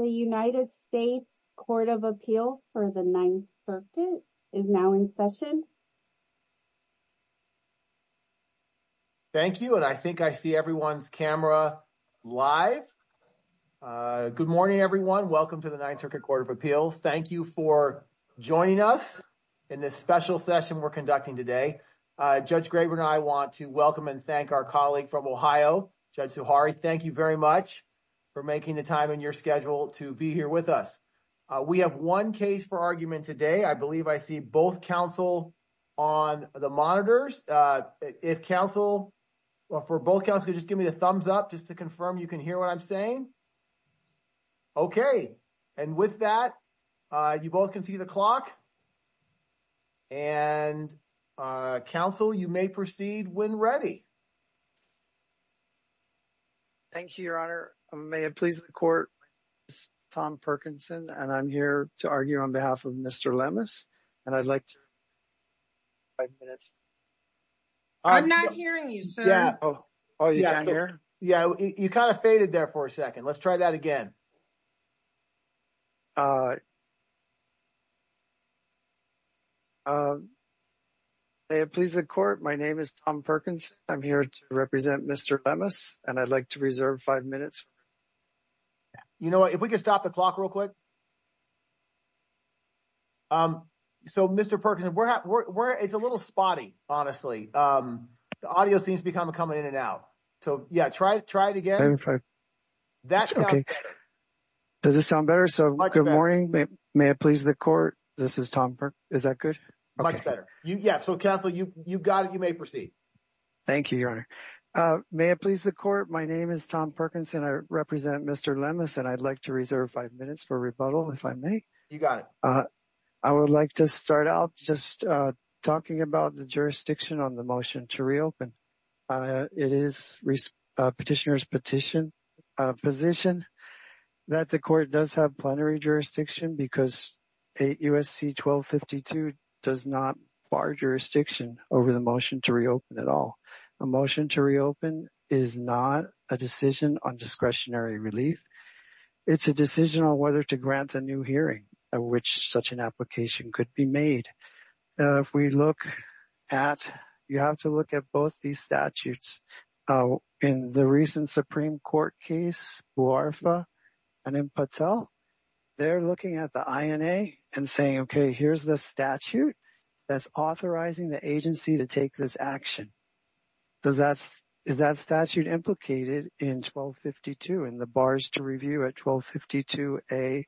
The United States Court of Appeals for the Ninth Circuit is now in session. Thank you and I think I see everyone's camera live. Good morning, everyone. Welcome to the Ninth Circuit Court of Appeals. Thank you for joining us in this special session we're conducting today. Judge Graber and I want to welcome and thank our colleague from Ohio, Judge Zuhari. Thank you very much for making the time in your schedule to be here with us. We have one case for argument today. I believe I see both counsel on the monitors. If counsel or for both counsel, just give me the thumbs up just to confirm you can hear what I'm saying. Okay. And with that, you both can see the clock and counsel, you may proceed when ready. Thank you, Your Honor. May it please the court, this is Tom Perkinson and I'm here to argue on behalf of Mr. Lemus and I'd like to reserve five minutes. I'm not hearing you, sir. Yeah. Oh, you can't hear? Yeah. You kind of faded there for a second. Let's try that again. May it please the court, my name is Tom Perkins. I'm here to represent Mr. Lemus and I'd like to reserve five minutes. You know what? If we could stop the clock real quick. So Mr. Perkinson, it's a little spotty, honestly, the audio seems to be kind of coming in and out. So yeah, try it again. That sounds better. Does it sound better? So good morning, may it please the court, this is Tom Perkinson. Is that good? Much better. Yeah, so counsel, you've got it, you may proceed. Thank you, your honor. May it please the court, my name is Tom Perkinson, I represent Mr. Lemus and I'd like to reserve five minutes for rebuttal, if I may. You got it. I would like to start out just talking about the jurisdiction on the motion to reopen. It is petitioner's position that the court does have plenary jurisdiction because 8 U.S.C. 1252 does not bar jurisdiction over the motion to reopen at all. A motion to reopen is not a decision on discretionary relief. It's a decision on whether to grant a new hearing at which such an application could be made. If we look at, you have to look at both these statutes. In the recent Supreme Court case, Buarfa and in Patel, they're looking at the INA and saying, okay, here's the statute that's authorizing the agency to take this action. Is that statute implicated in 1252 and the bars to review at 1252 A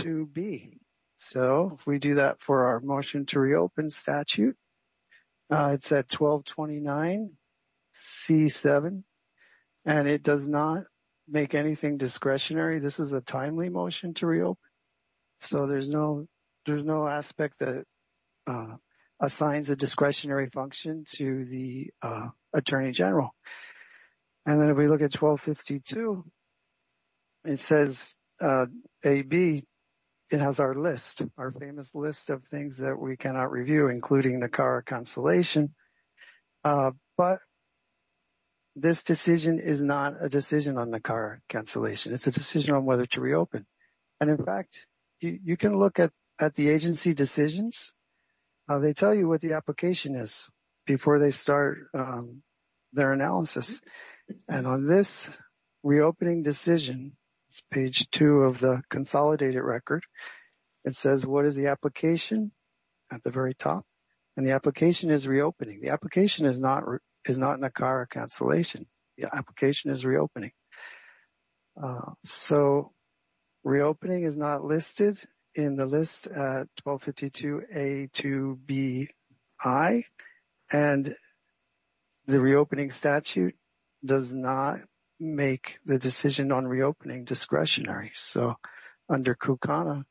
to B? So if we do that for our motion to reopen statute, it's at 1229 C7 and it does not make anything discretionary. This is a timely motion to reopen. So there's no aspect that assigns a discretionary function to the attorney general. And then if we look at 1252, it says A, B, it has our list, our famous list of things that we cannot review, including the car cancellation. But this decision is not a decision on the car cancellation. It's a decision on whether to reopen. And in fact, you can look at the agency decisions. They tell you what the application is before they start their analysis. And on this reopening decision, it's page two of the consolidated record. It says, what is the application at the very top? And the application is reopening. The application is not in a car cancellation. The application is reopening. So reopening is not listed in the list at 1252 A to B, I, and the reopening statute does not make the decision on reopening discretionary. So under KUKANA,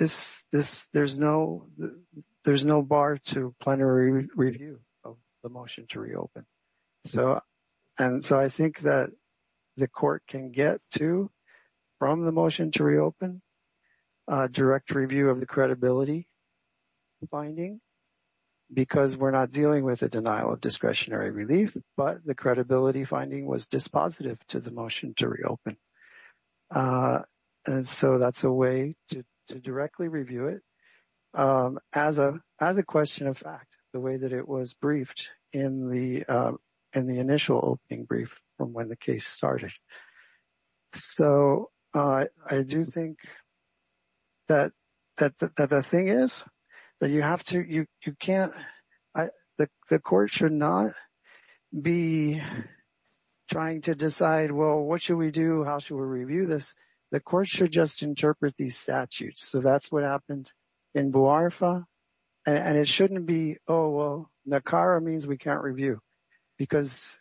there's no bar to plenary review of the motion to reopen. So, and so I think that the court can get to, from the motion to reopen, direct review of the credibility finding, because we're not dealing with a denial of discretionary relief, but the credibility finding was dispositive to the motion to reopen. And so that's a way to directly review it as a question of fact, the way that it was briefed in the initial opening brief from when the case started. So I do think that the thing is that you have to, you can't, the court should not be trying to decide, well, what should we do? How should we review this? The court should just interpret these statutes. So that's what happened in BUARFA and it shouldn't be, oh, well, NACARA means we can't review because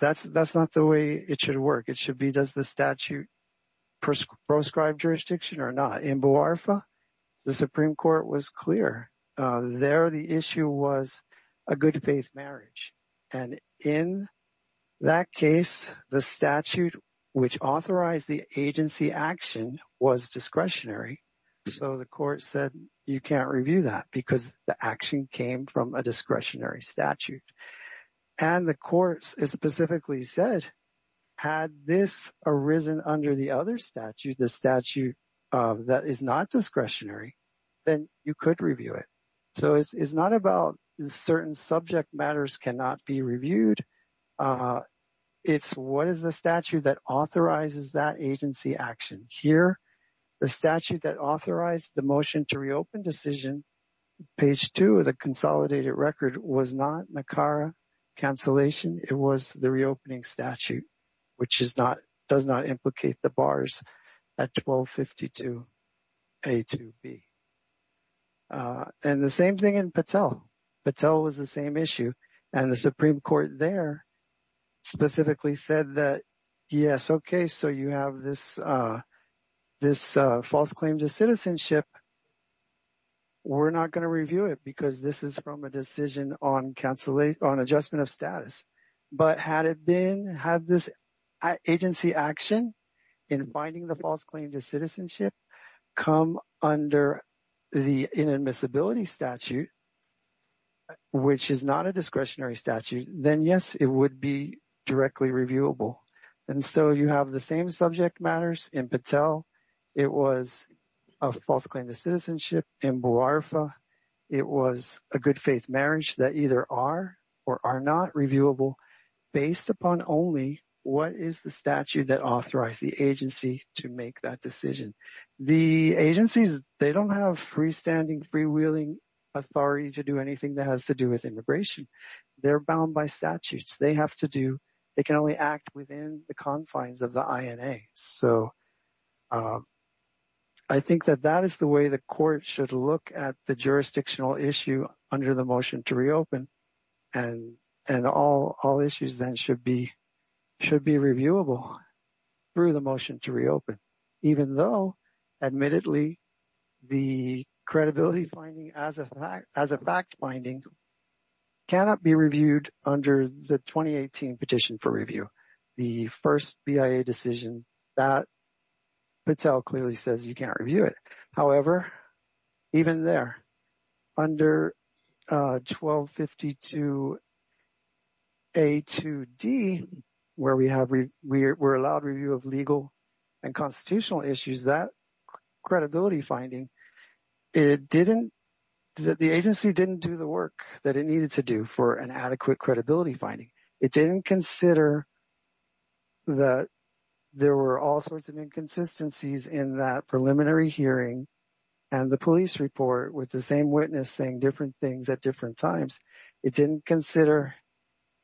that's not the way it should work. It should be, does the statute prescribe jurisdiction or not? In BUARFA, the Supreme Court was clear, there the issue was a good faith marriage. And in that case, the statute which authorized the agency action was discretionary. So the court said, you can't review that because the action came from a discretionary statute. And the courts specifically said, had this arisen under the other statute, the statute that is not discretionary, then you could review it. So it's not about certain subject matters cannot be reviewed. It's what is the statute that authorizes that agency action? Here, the statute that authorized the motion to reopen decision, page two, the consolidated record was not NACARA cancellation. It was the reopening statute, which is not, does not implicate the bars at 1252A2B. And the same thing in Patel. Patel was the same issue. And the Supreme Court there specifically said that, yes, okay, so you have this false claim to citizenship, we're not going to review it because this is from a decision on adjustment of status. But had it been, had this agency action in finding the false claim to citizenship come under the inadmissibility statute, which is not a discretionary statute, then yes, it would be directly reviewable. And so you have the same subject matters in Patel. It was a false claim to citizenship in Buarifa. It was a good faith marriage that either are or are not reviewable based upon only what is the statute that authorized the agency to make that decision. The agencies, they don't have freestanding freewheeling authority to do anything that has to do with immigration. They're bound by statutes. They have to do, they can only act within the confines of the INA. So I think that that is the way the court should look at the jurisdictional issue under the motion to reopen. And all issues then should be reviewable through the motion to reopen, even though admittedly, the credibility finding as a fact finding cannot be reviewed under the 2018 petition for review. The first BIA decision that Patel clearly says you can't review it. However, even there, under 1252A2D, where we have, we're allowed review of legal and constitutional issues, that credibility finding, it didn't, the agency didn't do the work that it needed to do for an adequate credibility finding. It didn't consider that there were all sorts of inconsistencies in that preliminary hearing and the police report with the same witness saying different things at different times. It didn't consider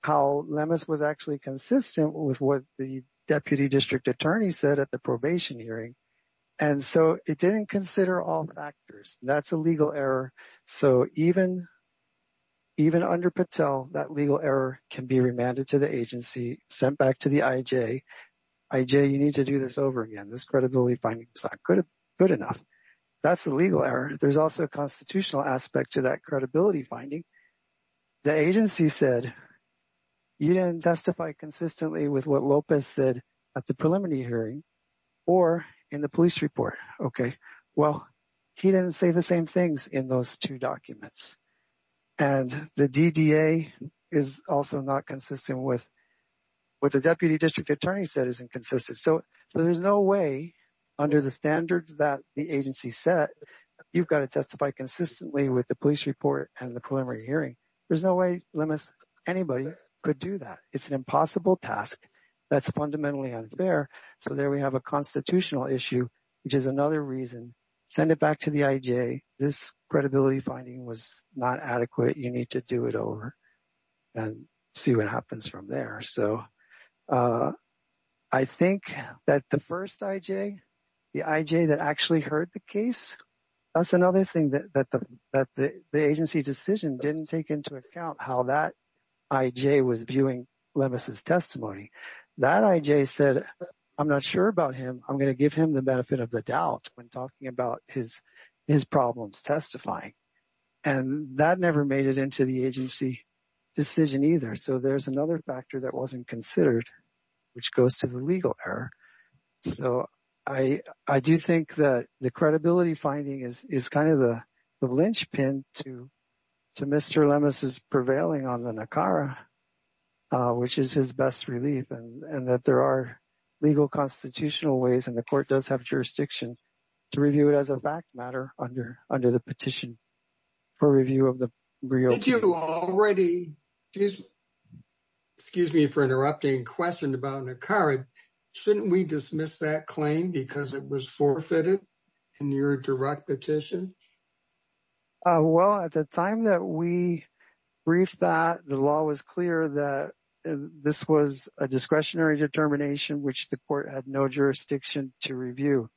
how Lemus was actually consistent with what the deputy district attorney said at the probation hearing. And so it didn't consider all factors. That's a legal error. So even under Patel, that legal error can be remanded to the agency, sent back to the IJ. IJ, you need to do this over again. This credibility finding is not good enough. That's a legal error. There's also a constitutional aspect to that credibility finding. The agency said you didn't testify consistently with what Lopez said at the preliminary hearing or in the police report. Okay. Well, he didn't say the same things in those two documents. And the DDA is also not consistent with what the deputy district attorney said is inconsistent. So there's no way under the standards that the agency set, you've got to testify consistently with the police report and the preliminary hearing. There's no way Lemus, anybody could do that. It's an impossible task. That's fundamentally unfair. So there we have a constitutional issue, which is another reason. Send it back to the IJ. This credibility finding was not adequate. You need to do it over and see what happens from there. So I think that the first IJ, the IJ that actually heard the case, that's another thing that the agency decision didn't take into account how that IJ was viewing Lemus' testimony. That IJ said, I'm not sure about him. I'm going to give him the benefit of the doubt when talking about his problems testifying. And that never made it into the agency decision either. So there's another factor that wasn't considered, which goes to the legal error. So I do think that the credibility finding is kind of the linchpin to Mr. Lemus' prevailing on the NACARA, which is his best relief. And that there are legal constitutional ways. And the court does have jurisdiction to review it as a fact matter under the petition for review of the real. Did you already, excuse me for interrupting, questioned about NACARA. Shouldn't we dismiss that claim because it was forfeited in your direct petition? Well, at the time that we briefed that, the law was clear that this was a discretionary determination, which the court had no jurisdiction to review.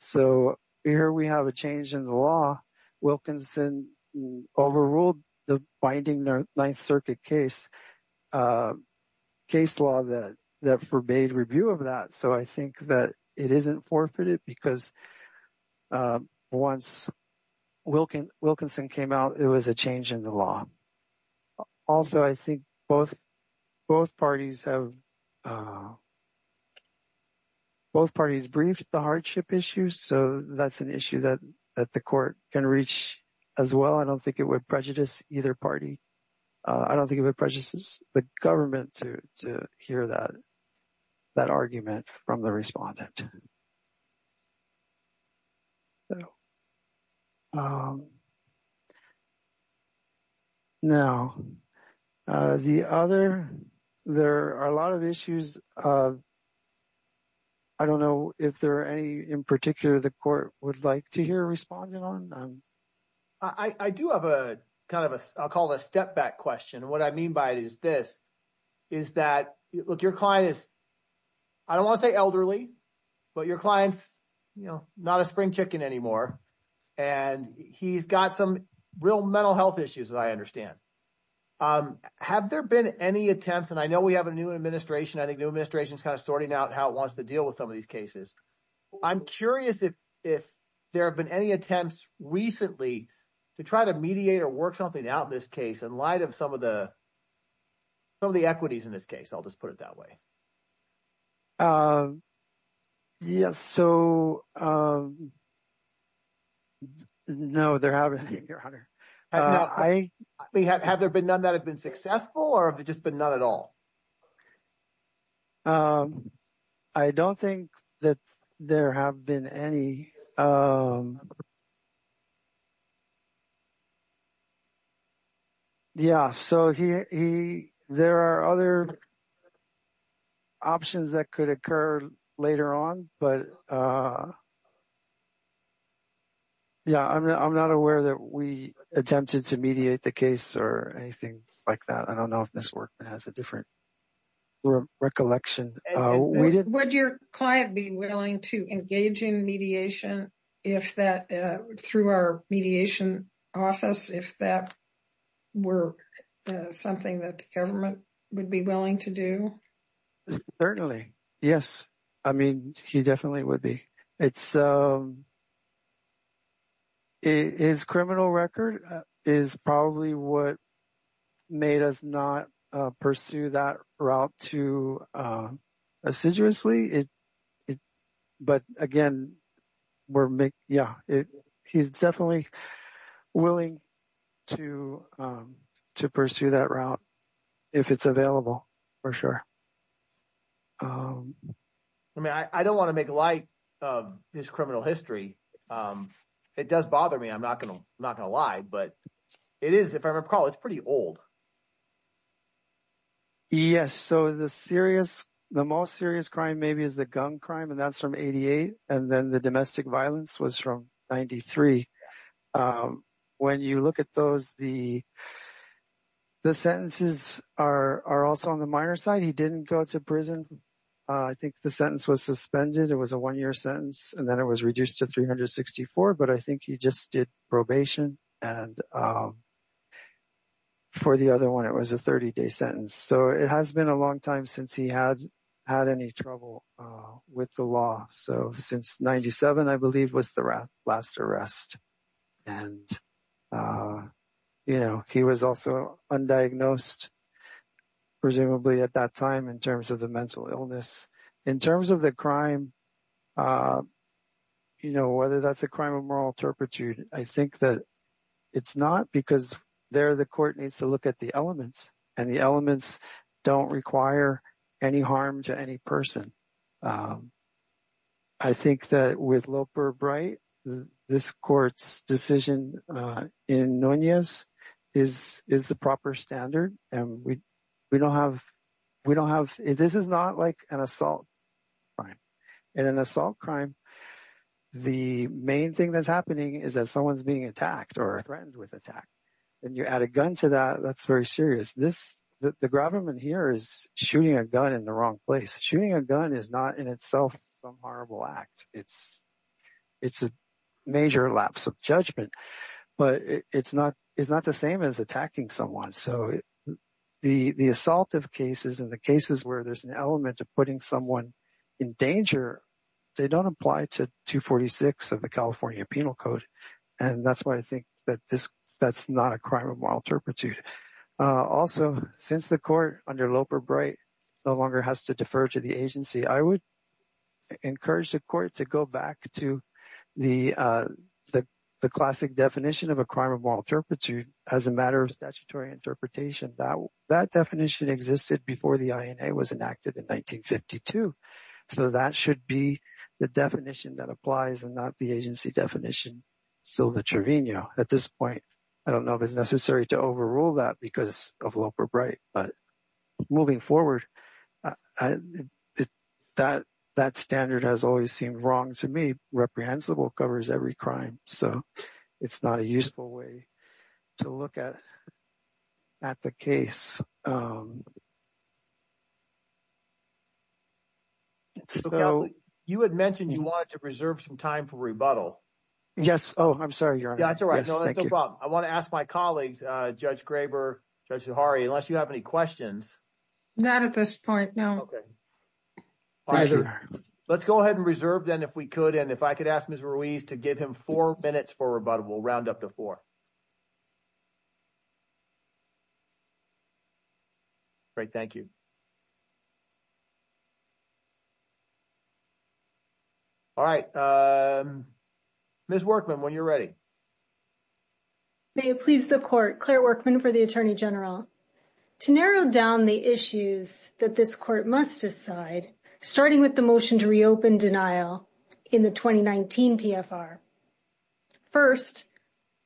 So here we have a change in the law. Wilkinson overruled the binding Ninth Circuit case, case law that forbade review of that. So I think that it isn't forfeited because once Wilkinson came out, it was a change in the law. Also, I think both parties briefed the hardship issue. So that's an issue that the court can reach as well. I don't think it would prejudice either party. I don't think it would prejudice the government to hear that argument from the respondent. Now, the other, there are a lot of issues. I don't know if there are any in particular the court would like to hear a respondent on. I do have a kind of a, I'll call it a step back question. What I mean by it is this, is that, look, your client is, I don't want to say elderly, but your client's not a spring chicken anymore. And he's got some real mental health issues, as I understand. Have there been any attempts, and I know we have a new administration. I think new administration is kind of sorting out how it wants to deal with some of these cases. I'm curious if there have been any attempts recently to try to mediate or work something out in this case in light of some of the equities in this case. I'll just put it that way. Yes. So, no, there haven't been, your honor. Have there been none that have been successful, or have there just been none at all? I don't think that there have been any. Yeah. So, there are other options that could occur later on. But, yeah, I'm not aware that we attempted to mediate the case or anything like that. I don't know if this work has a different recollection. Would your client be willing to engage in mediation if that, through our mediation office, if that were something that the government would be willing to do? Certainly. Yes. I mean, he definitely would be. It's, his criminal record is probably what made us not pursue that route too assiduously. But, again, we're, yeah, he's definitely willing to pursue that route if it's available, for sure. I mean, I don't want to make light of his criminal history. It does bother me. I'm not going to lie. But it is, if I recall, it's pretty old. Yes. So, the serious, the most serious crime maybe is the gun crime, and that's from 88. And then the domestic violence was from 93. When you look at those, the sentences are also on the minor side. He didn't go to prison. I think the sentence was suspended. It was a one-year sentence, and then it was reduced to 364. But I think he just did probation. And for the other one, it was a 30-day sentence. So, it has been a long time since he had any trouble with the law. So, since 97, I believe, was the last arrest. And, you know, he was also undiagnosed, presumably at that time, in terms of the mental illness. In terms of the crime, you know, whether that's a crime of moral turpitude, I think that it's not because there the court needs to look at the elements, and the elements don't require any harm to any person. I think that with Loper-Bright, this court's decision in Nunez is the proper standard. And we don't have, we don't have, this is not like an assault crime. In an assault crime, the main thing that's happening is that someone's being attacked or threatened with attack. And you add a gun to that, that's very serious. This, the grabberman here is shooting a gun in the wrong place. Shooting a gun is not in itself some horrible act. It's a major lapse of judgment. But it's not, it's not the same as attacking someone. So, the assaultive cases and the cases where there's an element of putting someone in danger, they don't apply to 246 of the California Penal Code. And that's why I think that this, that's not a crime of moral turpitude. Also, since the court under Loper-Bright no longer has to defer to the agency, I would encourage the court to go back to the classic definition of a crime of moral turpitude as a matter of statutory interpretation. That definition existed before the INA was enacted in 1952. So, that should be the definition that applies and not the agency definition. Silva Trevino. At this point, I don't know if it's necessary to overrule that because of Loper-Bright. But moving forward, that standard has always seemed wrong to me. Reprehensible covers every crime. So, it's not a useful way to look at the case. So, you had mentioned you wanted to preserve some time for rebuttal. Yes. Oh, I'm sorry, Your Honor. Yeah, that's all right. No, that's no problem. I want to ask my colleagues, Judge Graber, Judge Zahari, unless you have any questions. Not at this point, no. Let's go ahead and reserve then if we could. And if I could ask Ms. Ruiz to give him four minutes for rebuttal, we'll round up to four. Great, thank you. All right, Ms. Workman, when you're ready. May it please the Court. Claire Workman for the Attorney General. To narrow down the issues that this Court must decide, starting with the motion to reopen denial in the 2019 PFR. First,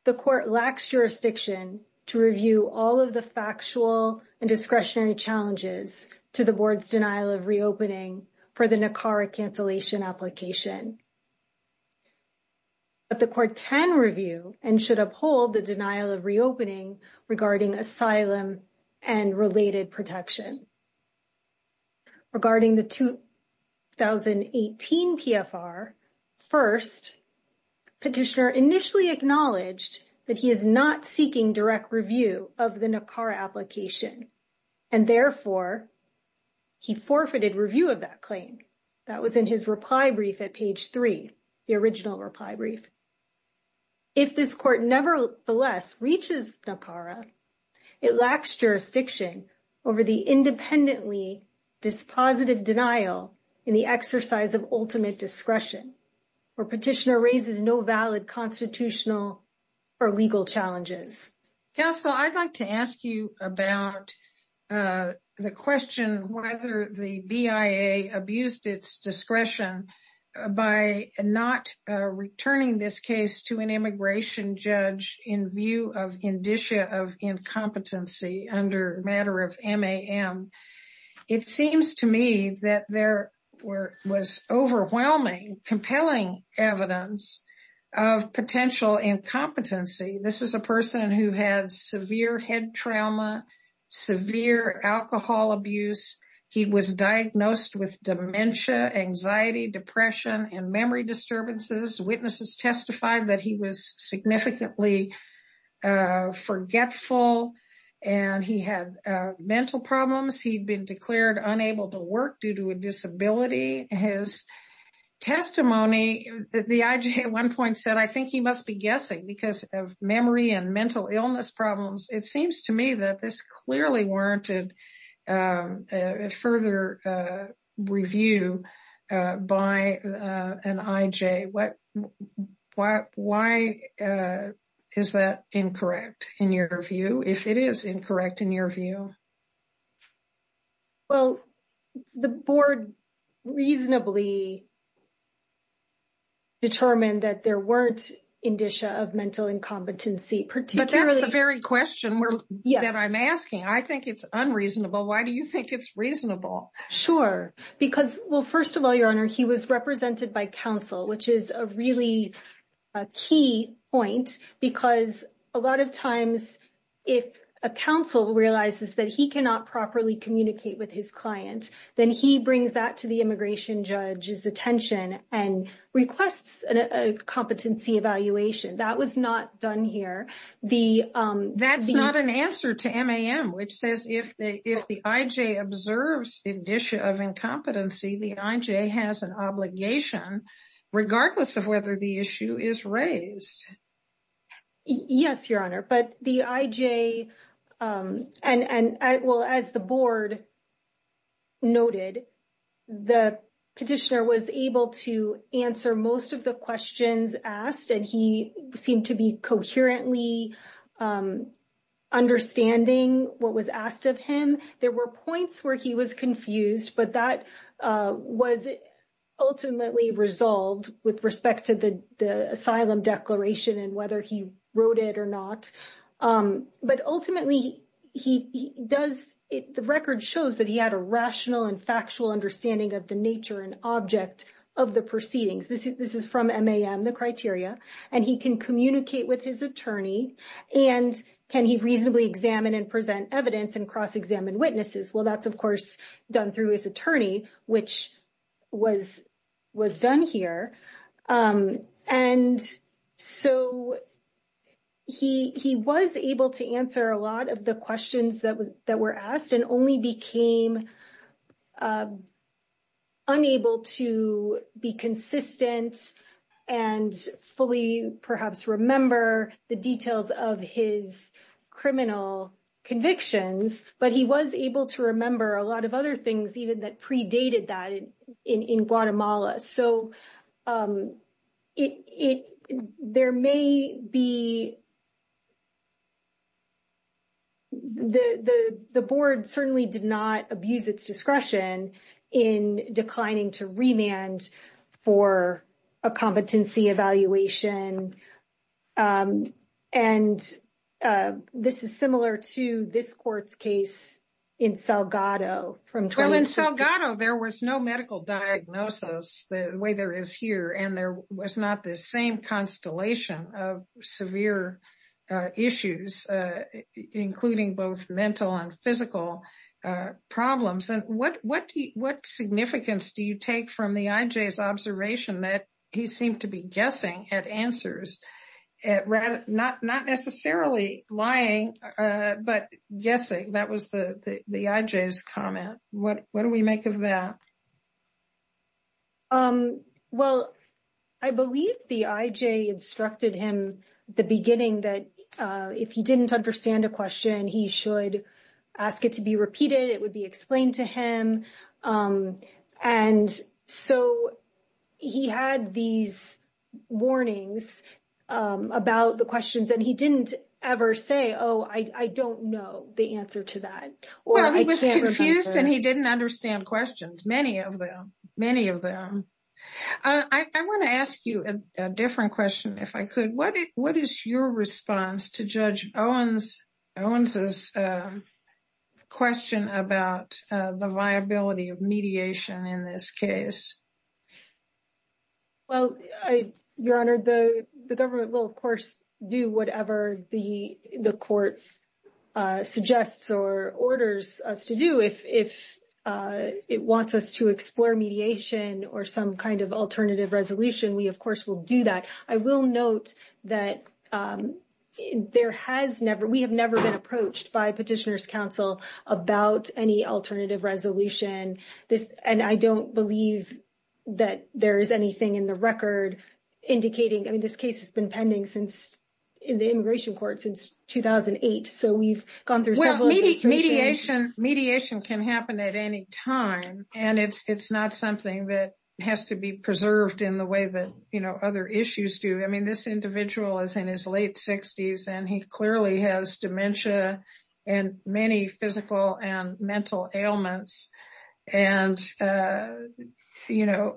the Court lacks jurisdiction to review all of the factual and discretionary challenges to the Board's denial of reopening for the NACARA cancellation application. But the Court can review and should uphold the denial of reopening regarding asylum and related protection. Regarding the 2018 PFR, first, Petitioner initially acknowledged that he is not seeking direct review of the NACARA application. And therefore, he forfeited review of that claim. That was in his reply brief at page three, the original reply brief. If this Court nevertheless reaches NACARA, it lacks jurisdiction over the independently dispositive denial in the exercise of ultimate discretion, or Petitioner raises no valid constitutional or legal challenges. Counsel, I'd like to ask you about the question whether the BIA abused its discretion by not returning this case to an immigration judge in view of indicia of incompetency under matter of MAM. It seems to me that there was overwhelming, compelling evidence of potential incompetency. This is a person who had severe head trauma, severe alcohol abuse. He was diagnosed with dementia, anxiety, depression, and memory disturbances. Witnesses testified that he was significantly forgetful, and he had mental problems. He'd been declared unable to work due to a disability. His testimony, the IJ at one point said, I think he must be guessing because of memory and mental illness problems. It seems to me that this clearly warranted further review by an IJ. Why is that incorrect in your view? If it is incorrect in your view? Well, the Board reasonably determined that there weren't indicia of mental incompetency, particularly... But that's the very question that I'm asking. I think it's unreasonable. Why do you think it's reasonable? Sure. Because, well, first of all, Your Honor, he was represented by counsel, which is a really key point because a lot of times if a counsel realizes that he cannot properly communicate with his client, then he brings that to the immigration judge's attention and requests a competency evaluation. That was not done here. That's not an answer to MAM, which says if the IJ observes indicia of incompetency, the IJ has an obligation, regardless of whether the issue is raised. Yes, Your Honor. But the IJ... And, well, as the Board noted, the petitioner was able to answer most of the questions asked, and he seemed to be coherently understanding what was asked of him. There were points where he was confused, but that was ultimately resolved with respect to the asylum declaration and whether he wrote it or not. But ultimately, he does... The record shows that he had a rational and factual understanding of the nature and object of the proceedings. This is from MAM, the criteria. And he can communicate with his attorney, and can he reasonably examine and present evidence and cross-examine witnesses? Well, that's, of course, done through his attorney, which was done here. And so he was able to answer a lot of the questions that were asked and only became unable to be consistent and fully perhaps remember the details of his criminal convictions. But he was able to remember a lot of other things even that predated that in Guatemala. So there may be... The Board certainly did not abuse its discretion in declining to remand for a competency evaluation. And this is similar to this court's case in Salgado. Well, in Salgado, there was no medical diagnosis the way there is here. And there was not this same constellation of severe issues, including both mental and physical problems. And what significance do you take from the IJ's observation that he seemed to be guessing at answers, not necessarily lying, but guessing? That was the IJ's comment. What do we make of that? Well, I believe the IJ instructed him at the beginning that if he didn't understand a question, he should ask it to be repeated. It would be explained to him. And so he had these warnings about the questions. And he didn't ever say, oh, I don't know the answer to that. Well, he was confused and he didn't understand questions, many of them, many of them. I want to ask you a different question, if I could. What is your response to Judge Owens' question about the viability of mediation in this case? Well, Your Honor, the government will, of course, do whatever the court suggests or orders us to do. If it wants us to explore mediation or some kind of alternative resolution, we, of course, will do that. I will note that we have never been approached by Petitioners' Counsel about any alternative resolution. And I don't believe that there is anything in the record indicating, I mean, this case has been pending since in the Immigration Court since 2008. So we've gone through several. Mediation can happen at any time. And it's not something that has to be preserved in the way that other issues do. I mean, this individual is in his late 60s and he clearly has dementia and many physical and mental ailments. And, you know,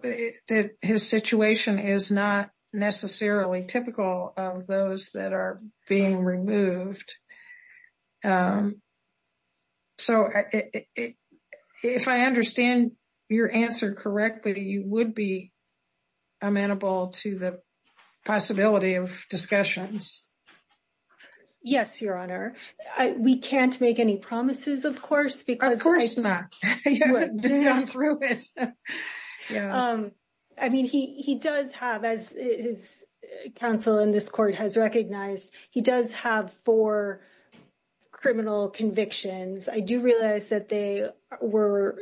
his situation is not necessarily typical of those that are being removed. So if I understand your answer correctly, you would be amenable to the possibility of discussions. Yes, Your Honor. We can't make any promises, of course. Of course not. I mean, he does have, as his counsel in this court has recognized, he does have four criminal convictions. I do realize that they were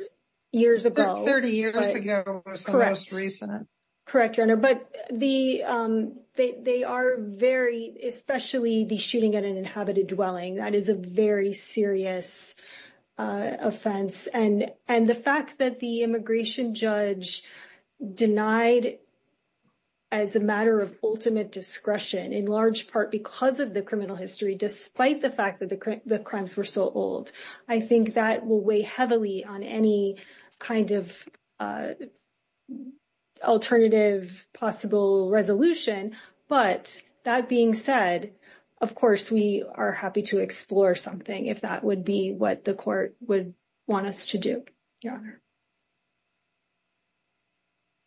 years ago. 30 years ago was the most recent. Correct, Your Honor. But they are very, especially the shooting at an inhabited dwelling. That is a very serious offense. And the fact that the immigration judge denied as a matter of ultimate discretion, in large part because of the criminal history, despite the fact that the crimes were so old, I think that will weigh heavily on any kind of alternative possible resolution. But that being said, of course, we are happy to explore something if that would be what the court would want us to do, Your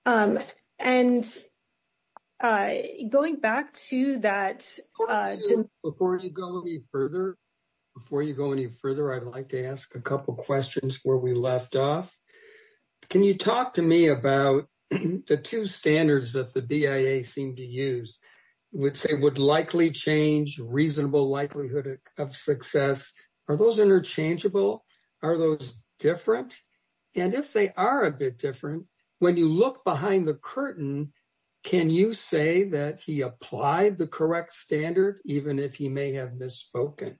Honor. And going back to that. Before you go any further, I'd like to ask a couple questions where we left off. Can you talk to me about the two standards that the BIA seemed to use, which they would likely change reasonable likelihood of success? Are those interchangeable? Are those different? And if they are a bit different, when you look behind the curtain, can you say that he applied the correct standard, even if he may have misspoken?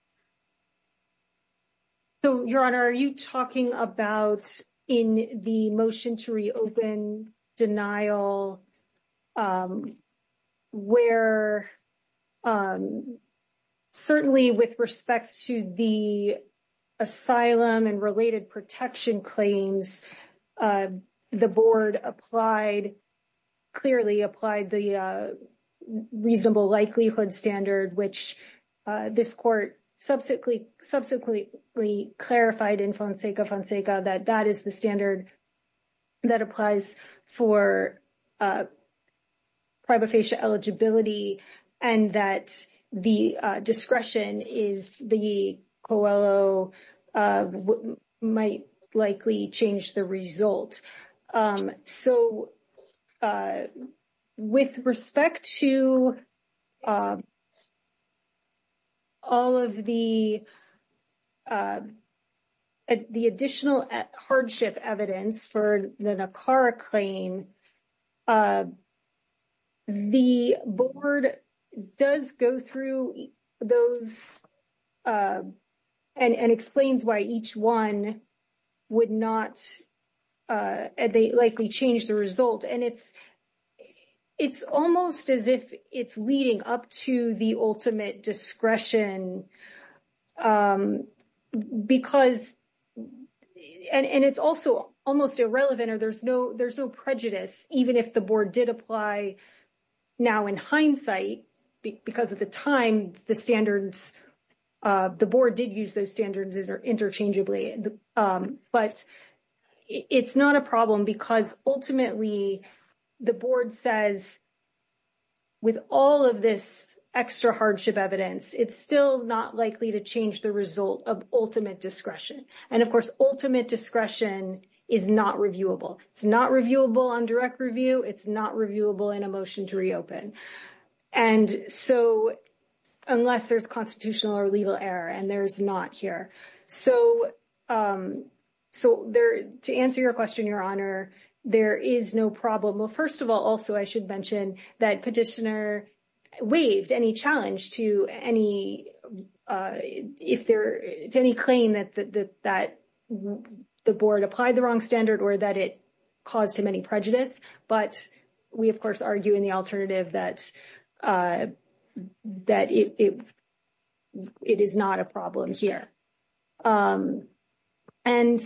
So, Your Honor, are you talking about in the motion to reopen denial where certainly with respect to the asylum and related protection claims, the board applied, clearly applied the reasonable likelihood standard, which this court subsequently clarified in Fonseca-Fonseca that that is the standard that applies for prima facie eligibility and that the discretion is the COELO might likely change the result. So, with respect to all of the additional hardship evidence for the NACARA claim, the board does go through those and explains why each one would not, they likely change the result. And it's almost as if it's leading up to the ultimate discretion because, and it's also almost irrelevant or there's no prejudice, even if the board did apply now in hindsight, because at the time the standards, the board did use those standards interchangeably. But it's not a problem because ultimately the board says with all of this extra hardship evidence, it's still not likely to change the result of ultimate discretion. And of course, ultimate discretion is not reviewable. It's not reviewable on direct review. It's not reviewable in a motion to reopen. And so, unless there's constitutional or legal error, and there's not here. So, to answer your question, Your Honor, there is no problem. Well, first of all, also, I should mention that petitioner waived any challenge to any if there's any claim that the board applied the wrong standard or that it caused him any But we, of course, argue in the alternative that it is not a problem here. And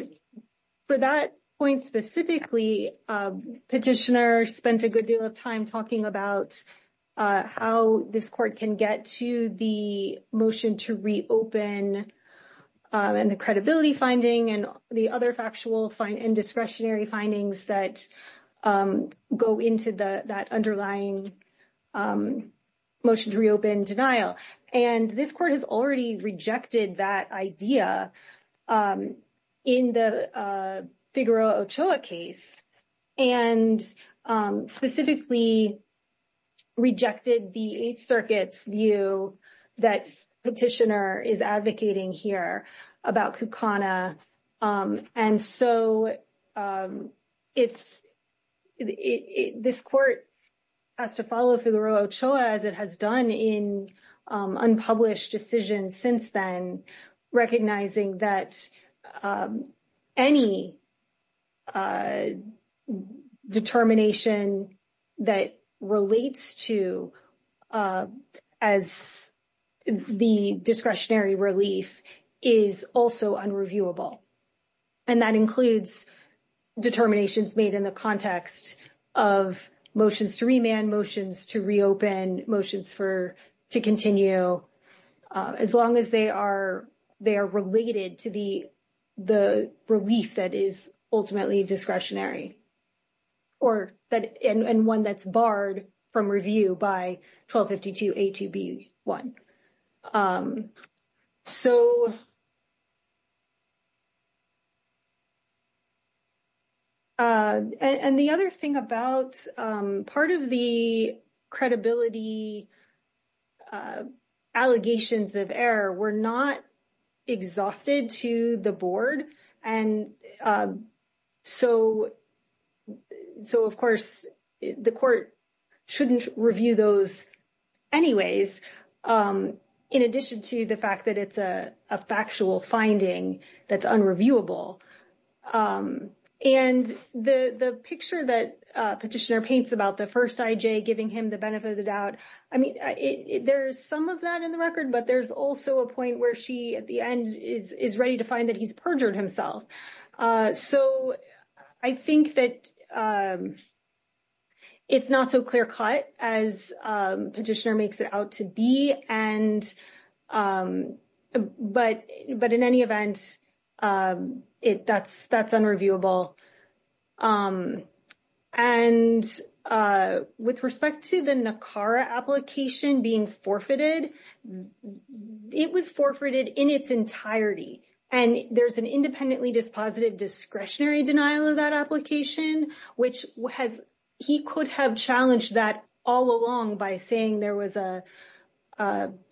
for that point specifically, petitioner spent a good deal of time talking about how this court can get to the motion to reopen and the credibility finding and the other factual indiscretionary findings that go into that underlying motion to reopen denial. And this court has already rejected that idea in the Figueroa-Ochoa case and specifically rejected the Eighth Circuit's view that petitioner is advocating here about Kukana. And so, this court has to follow Figueroa-Ochoa as it has done in unpublished decisions since then, recognizing that any determination that relates to as the discretionary relief is also unreviewable. And that includes determinations made in the context of motions to remand, motions to reopen, motions for to continue, as long as they are related to the relief that is ultimately discretionary or that and one that's barred from review by 1252A2B1. And the other thing about part of the credibility allegations of error were not exhausted to the board. And so, of course, the court shouldn't review those anyways, in addition to the fact that it's a factual finding that's unreviewable. And the picture that petitioner paints about the first IJ giving him the benefit of the doubt, I mean, there's some of that in the record, but there's also a point where she at the end is ready to find that he's perjured himself. So, I think that it's not so clear cut as petitioner makes it out to be. But in any event, that's unreviewable. And with respect to the NACARA application being forfeited, it was forfeited in its entirety. And there's an independently dispositive discretionary denial of that application, which he could have challenged that all along by saying there was a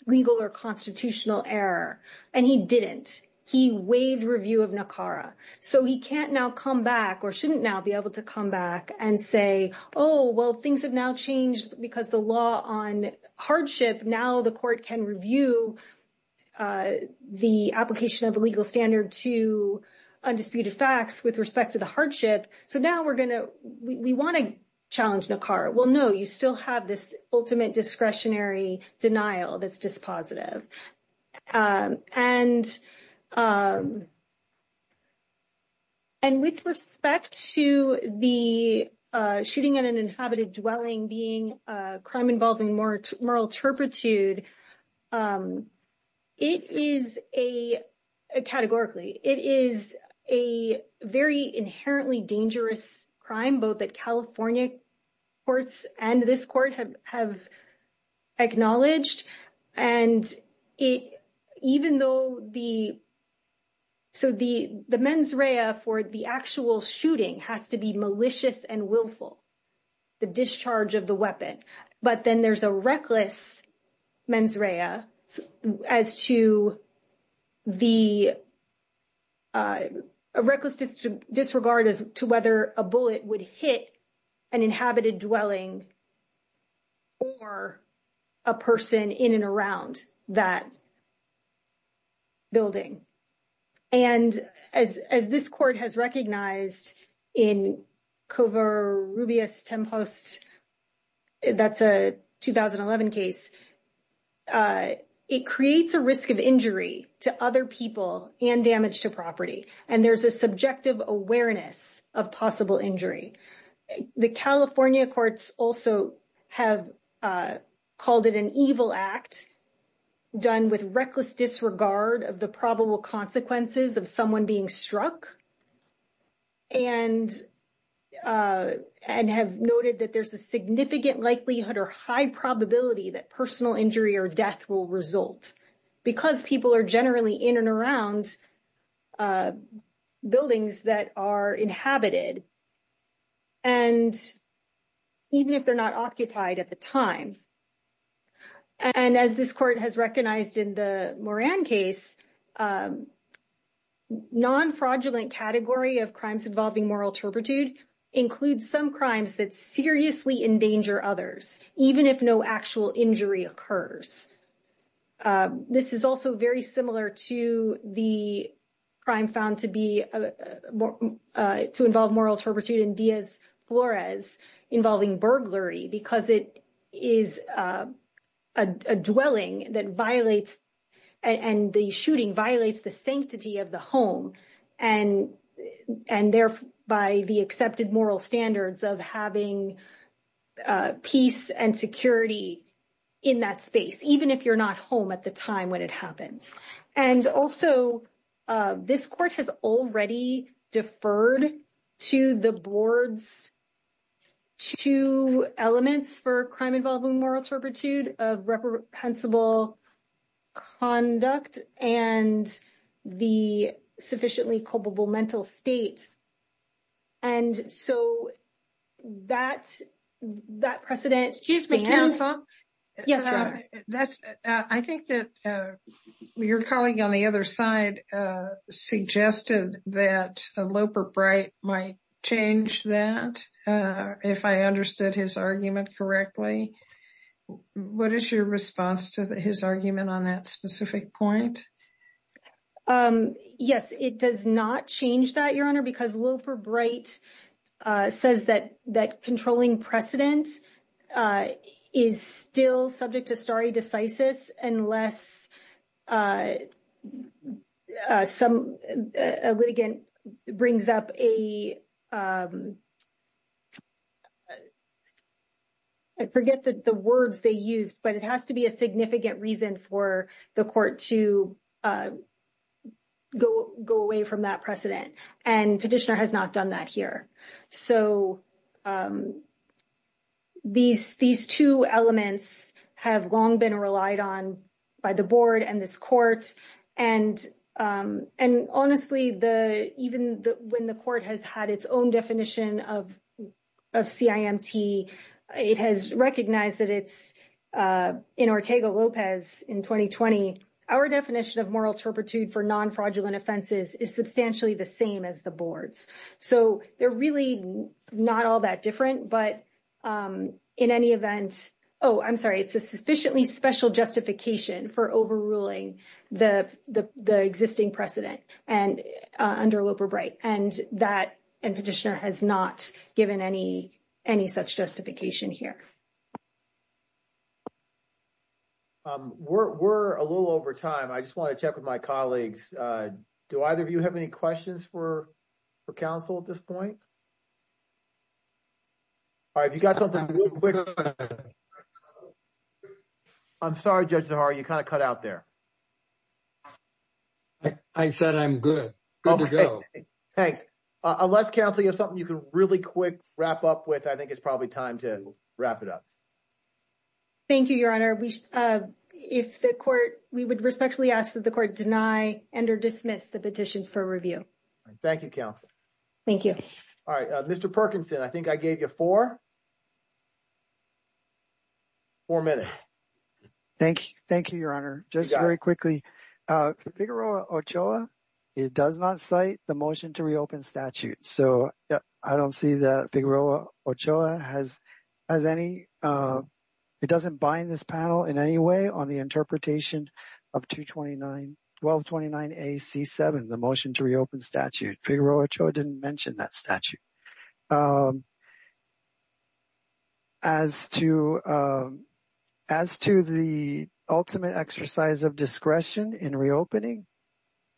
legal or constitutional error. And he didn't. He waived review of NACARA. So, he can't now come back or shouldn't now be able to come back and say, oh, well, things have now changed because the law on hardship, now the court can review the application of a legal standard to undisputed facts with respect to the hardship. So, now we want to challenge NACARA. Well, no, you still have this ultimate discretionary denial that's dispositive. And with respect to the shooting at an inhabited dwelling being a crime involving moral turpitude, it is a, categorically, it is a very inherently dangerous crime, both at California courts and this court have acknowledged. And even though the, so the mens rea for the actual shooting has to be malicious and willful, the discharge of the weapon. But then there's a reckless mens rea as to the a reckless disregard as to whether a bullet would hit an inhabited dwelling or a person in and around that building. And as this court has recognized in Covarrubias-Tempost, that's a 2011 case, it creates a risk of injury to other people and damage to property. And there's a subjective awareness of possible injury. The California courts also have called it an evil act done with reckless disregard of the probable consequences of someone being struck and have noted that there's a significant likelihood or high probability that personal injury or death will result. Because people are generally in and around buildings that are inhabited. And even if they're not occupied at the time. And as this court has recognized in the Moran case, non-fraudulent category of crimes involving moral turpitude includes some crimes that seriously endanger others, even if no actual injury occurs. This is also very similar to the crime found to be, to involve moral turpitude in Diaz-Flores, involving burglary, because it is a dwelling that violates and the shooting violates the sanctity of the home. And therefore, by the accepted moral standards of having peace and security in that space, even if you're not home at the time when it happens. And also, this court has already deferred to the board's two elements for crime involving moral turpitude of reprehensible conduct and the sufficiently culpable mental state. And so, that precedent. Excuse me, counsel. Yes. I think that your colleague on the other side suggested that Loper Bright might change that, if I understood his argument correctly. What is your response to his argument on that specific point? Yes, it does not change that, Your Honor, because Loper Bright says that that controlling precedent is still subject to stare decisis unless a litigant brings up a... I forget the words they used, but it has to be a significant reason for the court to to go away from that precedent. And Petitioner has not done that here. So, these two elements have long been relied on by the board and this court. And honestly, even when the court has had its own definition of CIMT, it has recognized that it's in Ortega-Lopez in 2020. Our definition of moral turpitude for non-fraudulent offenses is substantially the same as the board's. So, they're really not all that different. But in any event, oh, I'm sorry, it's a sufficiently special justification for overruling the existing precedent under Loper Bright. And Petitioner has not given any such justification here. We're a little over time. I just want to check with my colleagues. Do either of you have any questions for counsel at this point? All right, if you got something real quick. I'm sorry, Judge Zahara, you kind of cut out there. I said I'm good. Good to go. Thanks. Unless, counsel, you have something you could really quick wrap up with, I think it's probably time to wrap it up. Thank you, Your Honor. If the court, we would respectfully ask that the court deny and or dismiss the petitions for review. All right. Thank you, counsel. Thank you. All right. Mr. Perkinson, I think I gave you four minutes. Thank you, Your Honor. Just very quickly, Figueroa Ochoa, it does not cite the motion to reopen statute. So, I don't see that Figueroa Ochoa has any, it doesn't bind this panel in any way on the interpretation of 229, 1229AC7, the motion to reopen statute. Figueroa Ochoa didn't mention that statute. As to the ultimate exercise of discretion in reopening,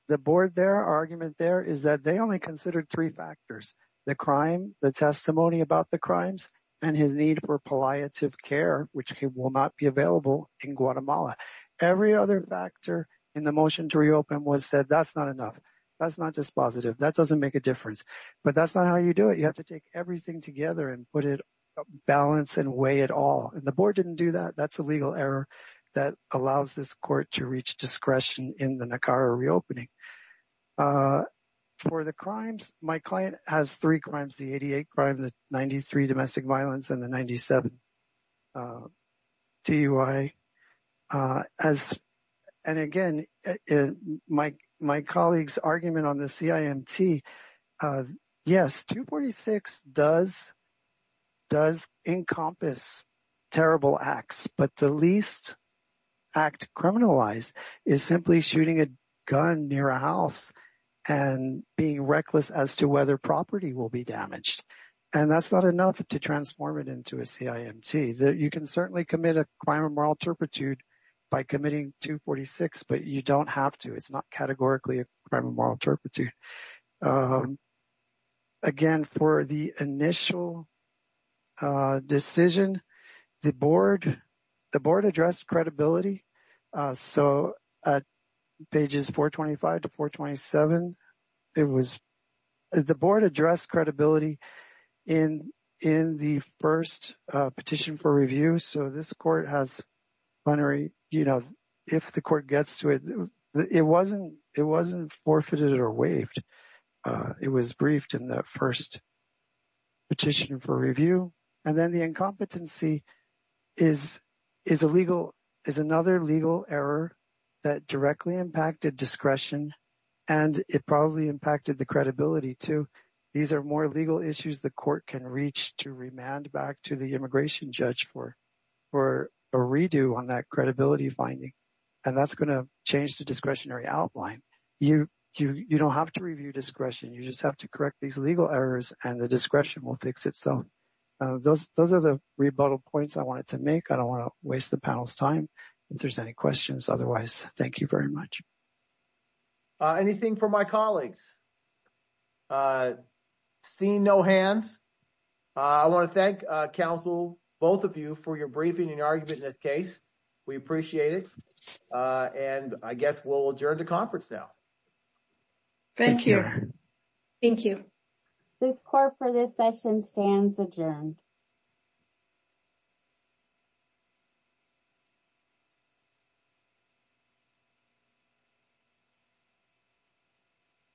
the board there, argument there is that they only considered three factors, the crime, the testimony about the crimes, and his need for palliative care, which will not be available in Guatemala. Every other factor in the motion to reopen was said, that's not enough. That's not dispositive. That doesn't make a difference. But that's not how you do it. You have to take everything together and put it balance and weigh it all. And the board didn't do that. That's a legal error that allows this court to reach discretion in the NACARA reopening. For the crimes, my client has three crimes, the 88 crime, the 93 domestic violence, and the 97 DUI. And again, my colleague's argument on the CIMT, yes, 246 does encompass terrible acts, but the least act criminalized is simply shooting a gun near a house and being reckless as to whether property will be damaged. And that's not enough to transform it into a CIMT. You can certainly commit a crime of moral turpitude by committing 246, but you don't have to. It's not the board addressed credibility. So, pages 425 to 427, it was the board addressed credibility in the first petition for review. So, this court has, you know, if the court gets to it, it wasn't forfeited or waived. It was briefed in that first petition for review. And then the is a legal, is another legal error that directly impacted discretion. And it probably impacted the credibility too. These are more legal issues the court can reach to remand back to the immigration judge for a redo on that credibility finding. And that's going to change the discretionary outline. You don't have to review discretion. You just have to correct these legal errors and the fix it. So, those are the rebuttal points I wanted to make. I don't want to waste the panel's time if there's any questions. Otherwise, thank you very much. Anything from my colleagues? Seeing no hands, I want to thank counsel, both of you for your briefing and argument in this case. We appreciate it. And I guess we'll adjourn the conference now. Thank you. Thank you. This court for this session stands adjourned.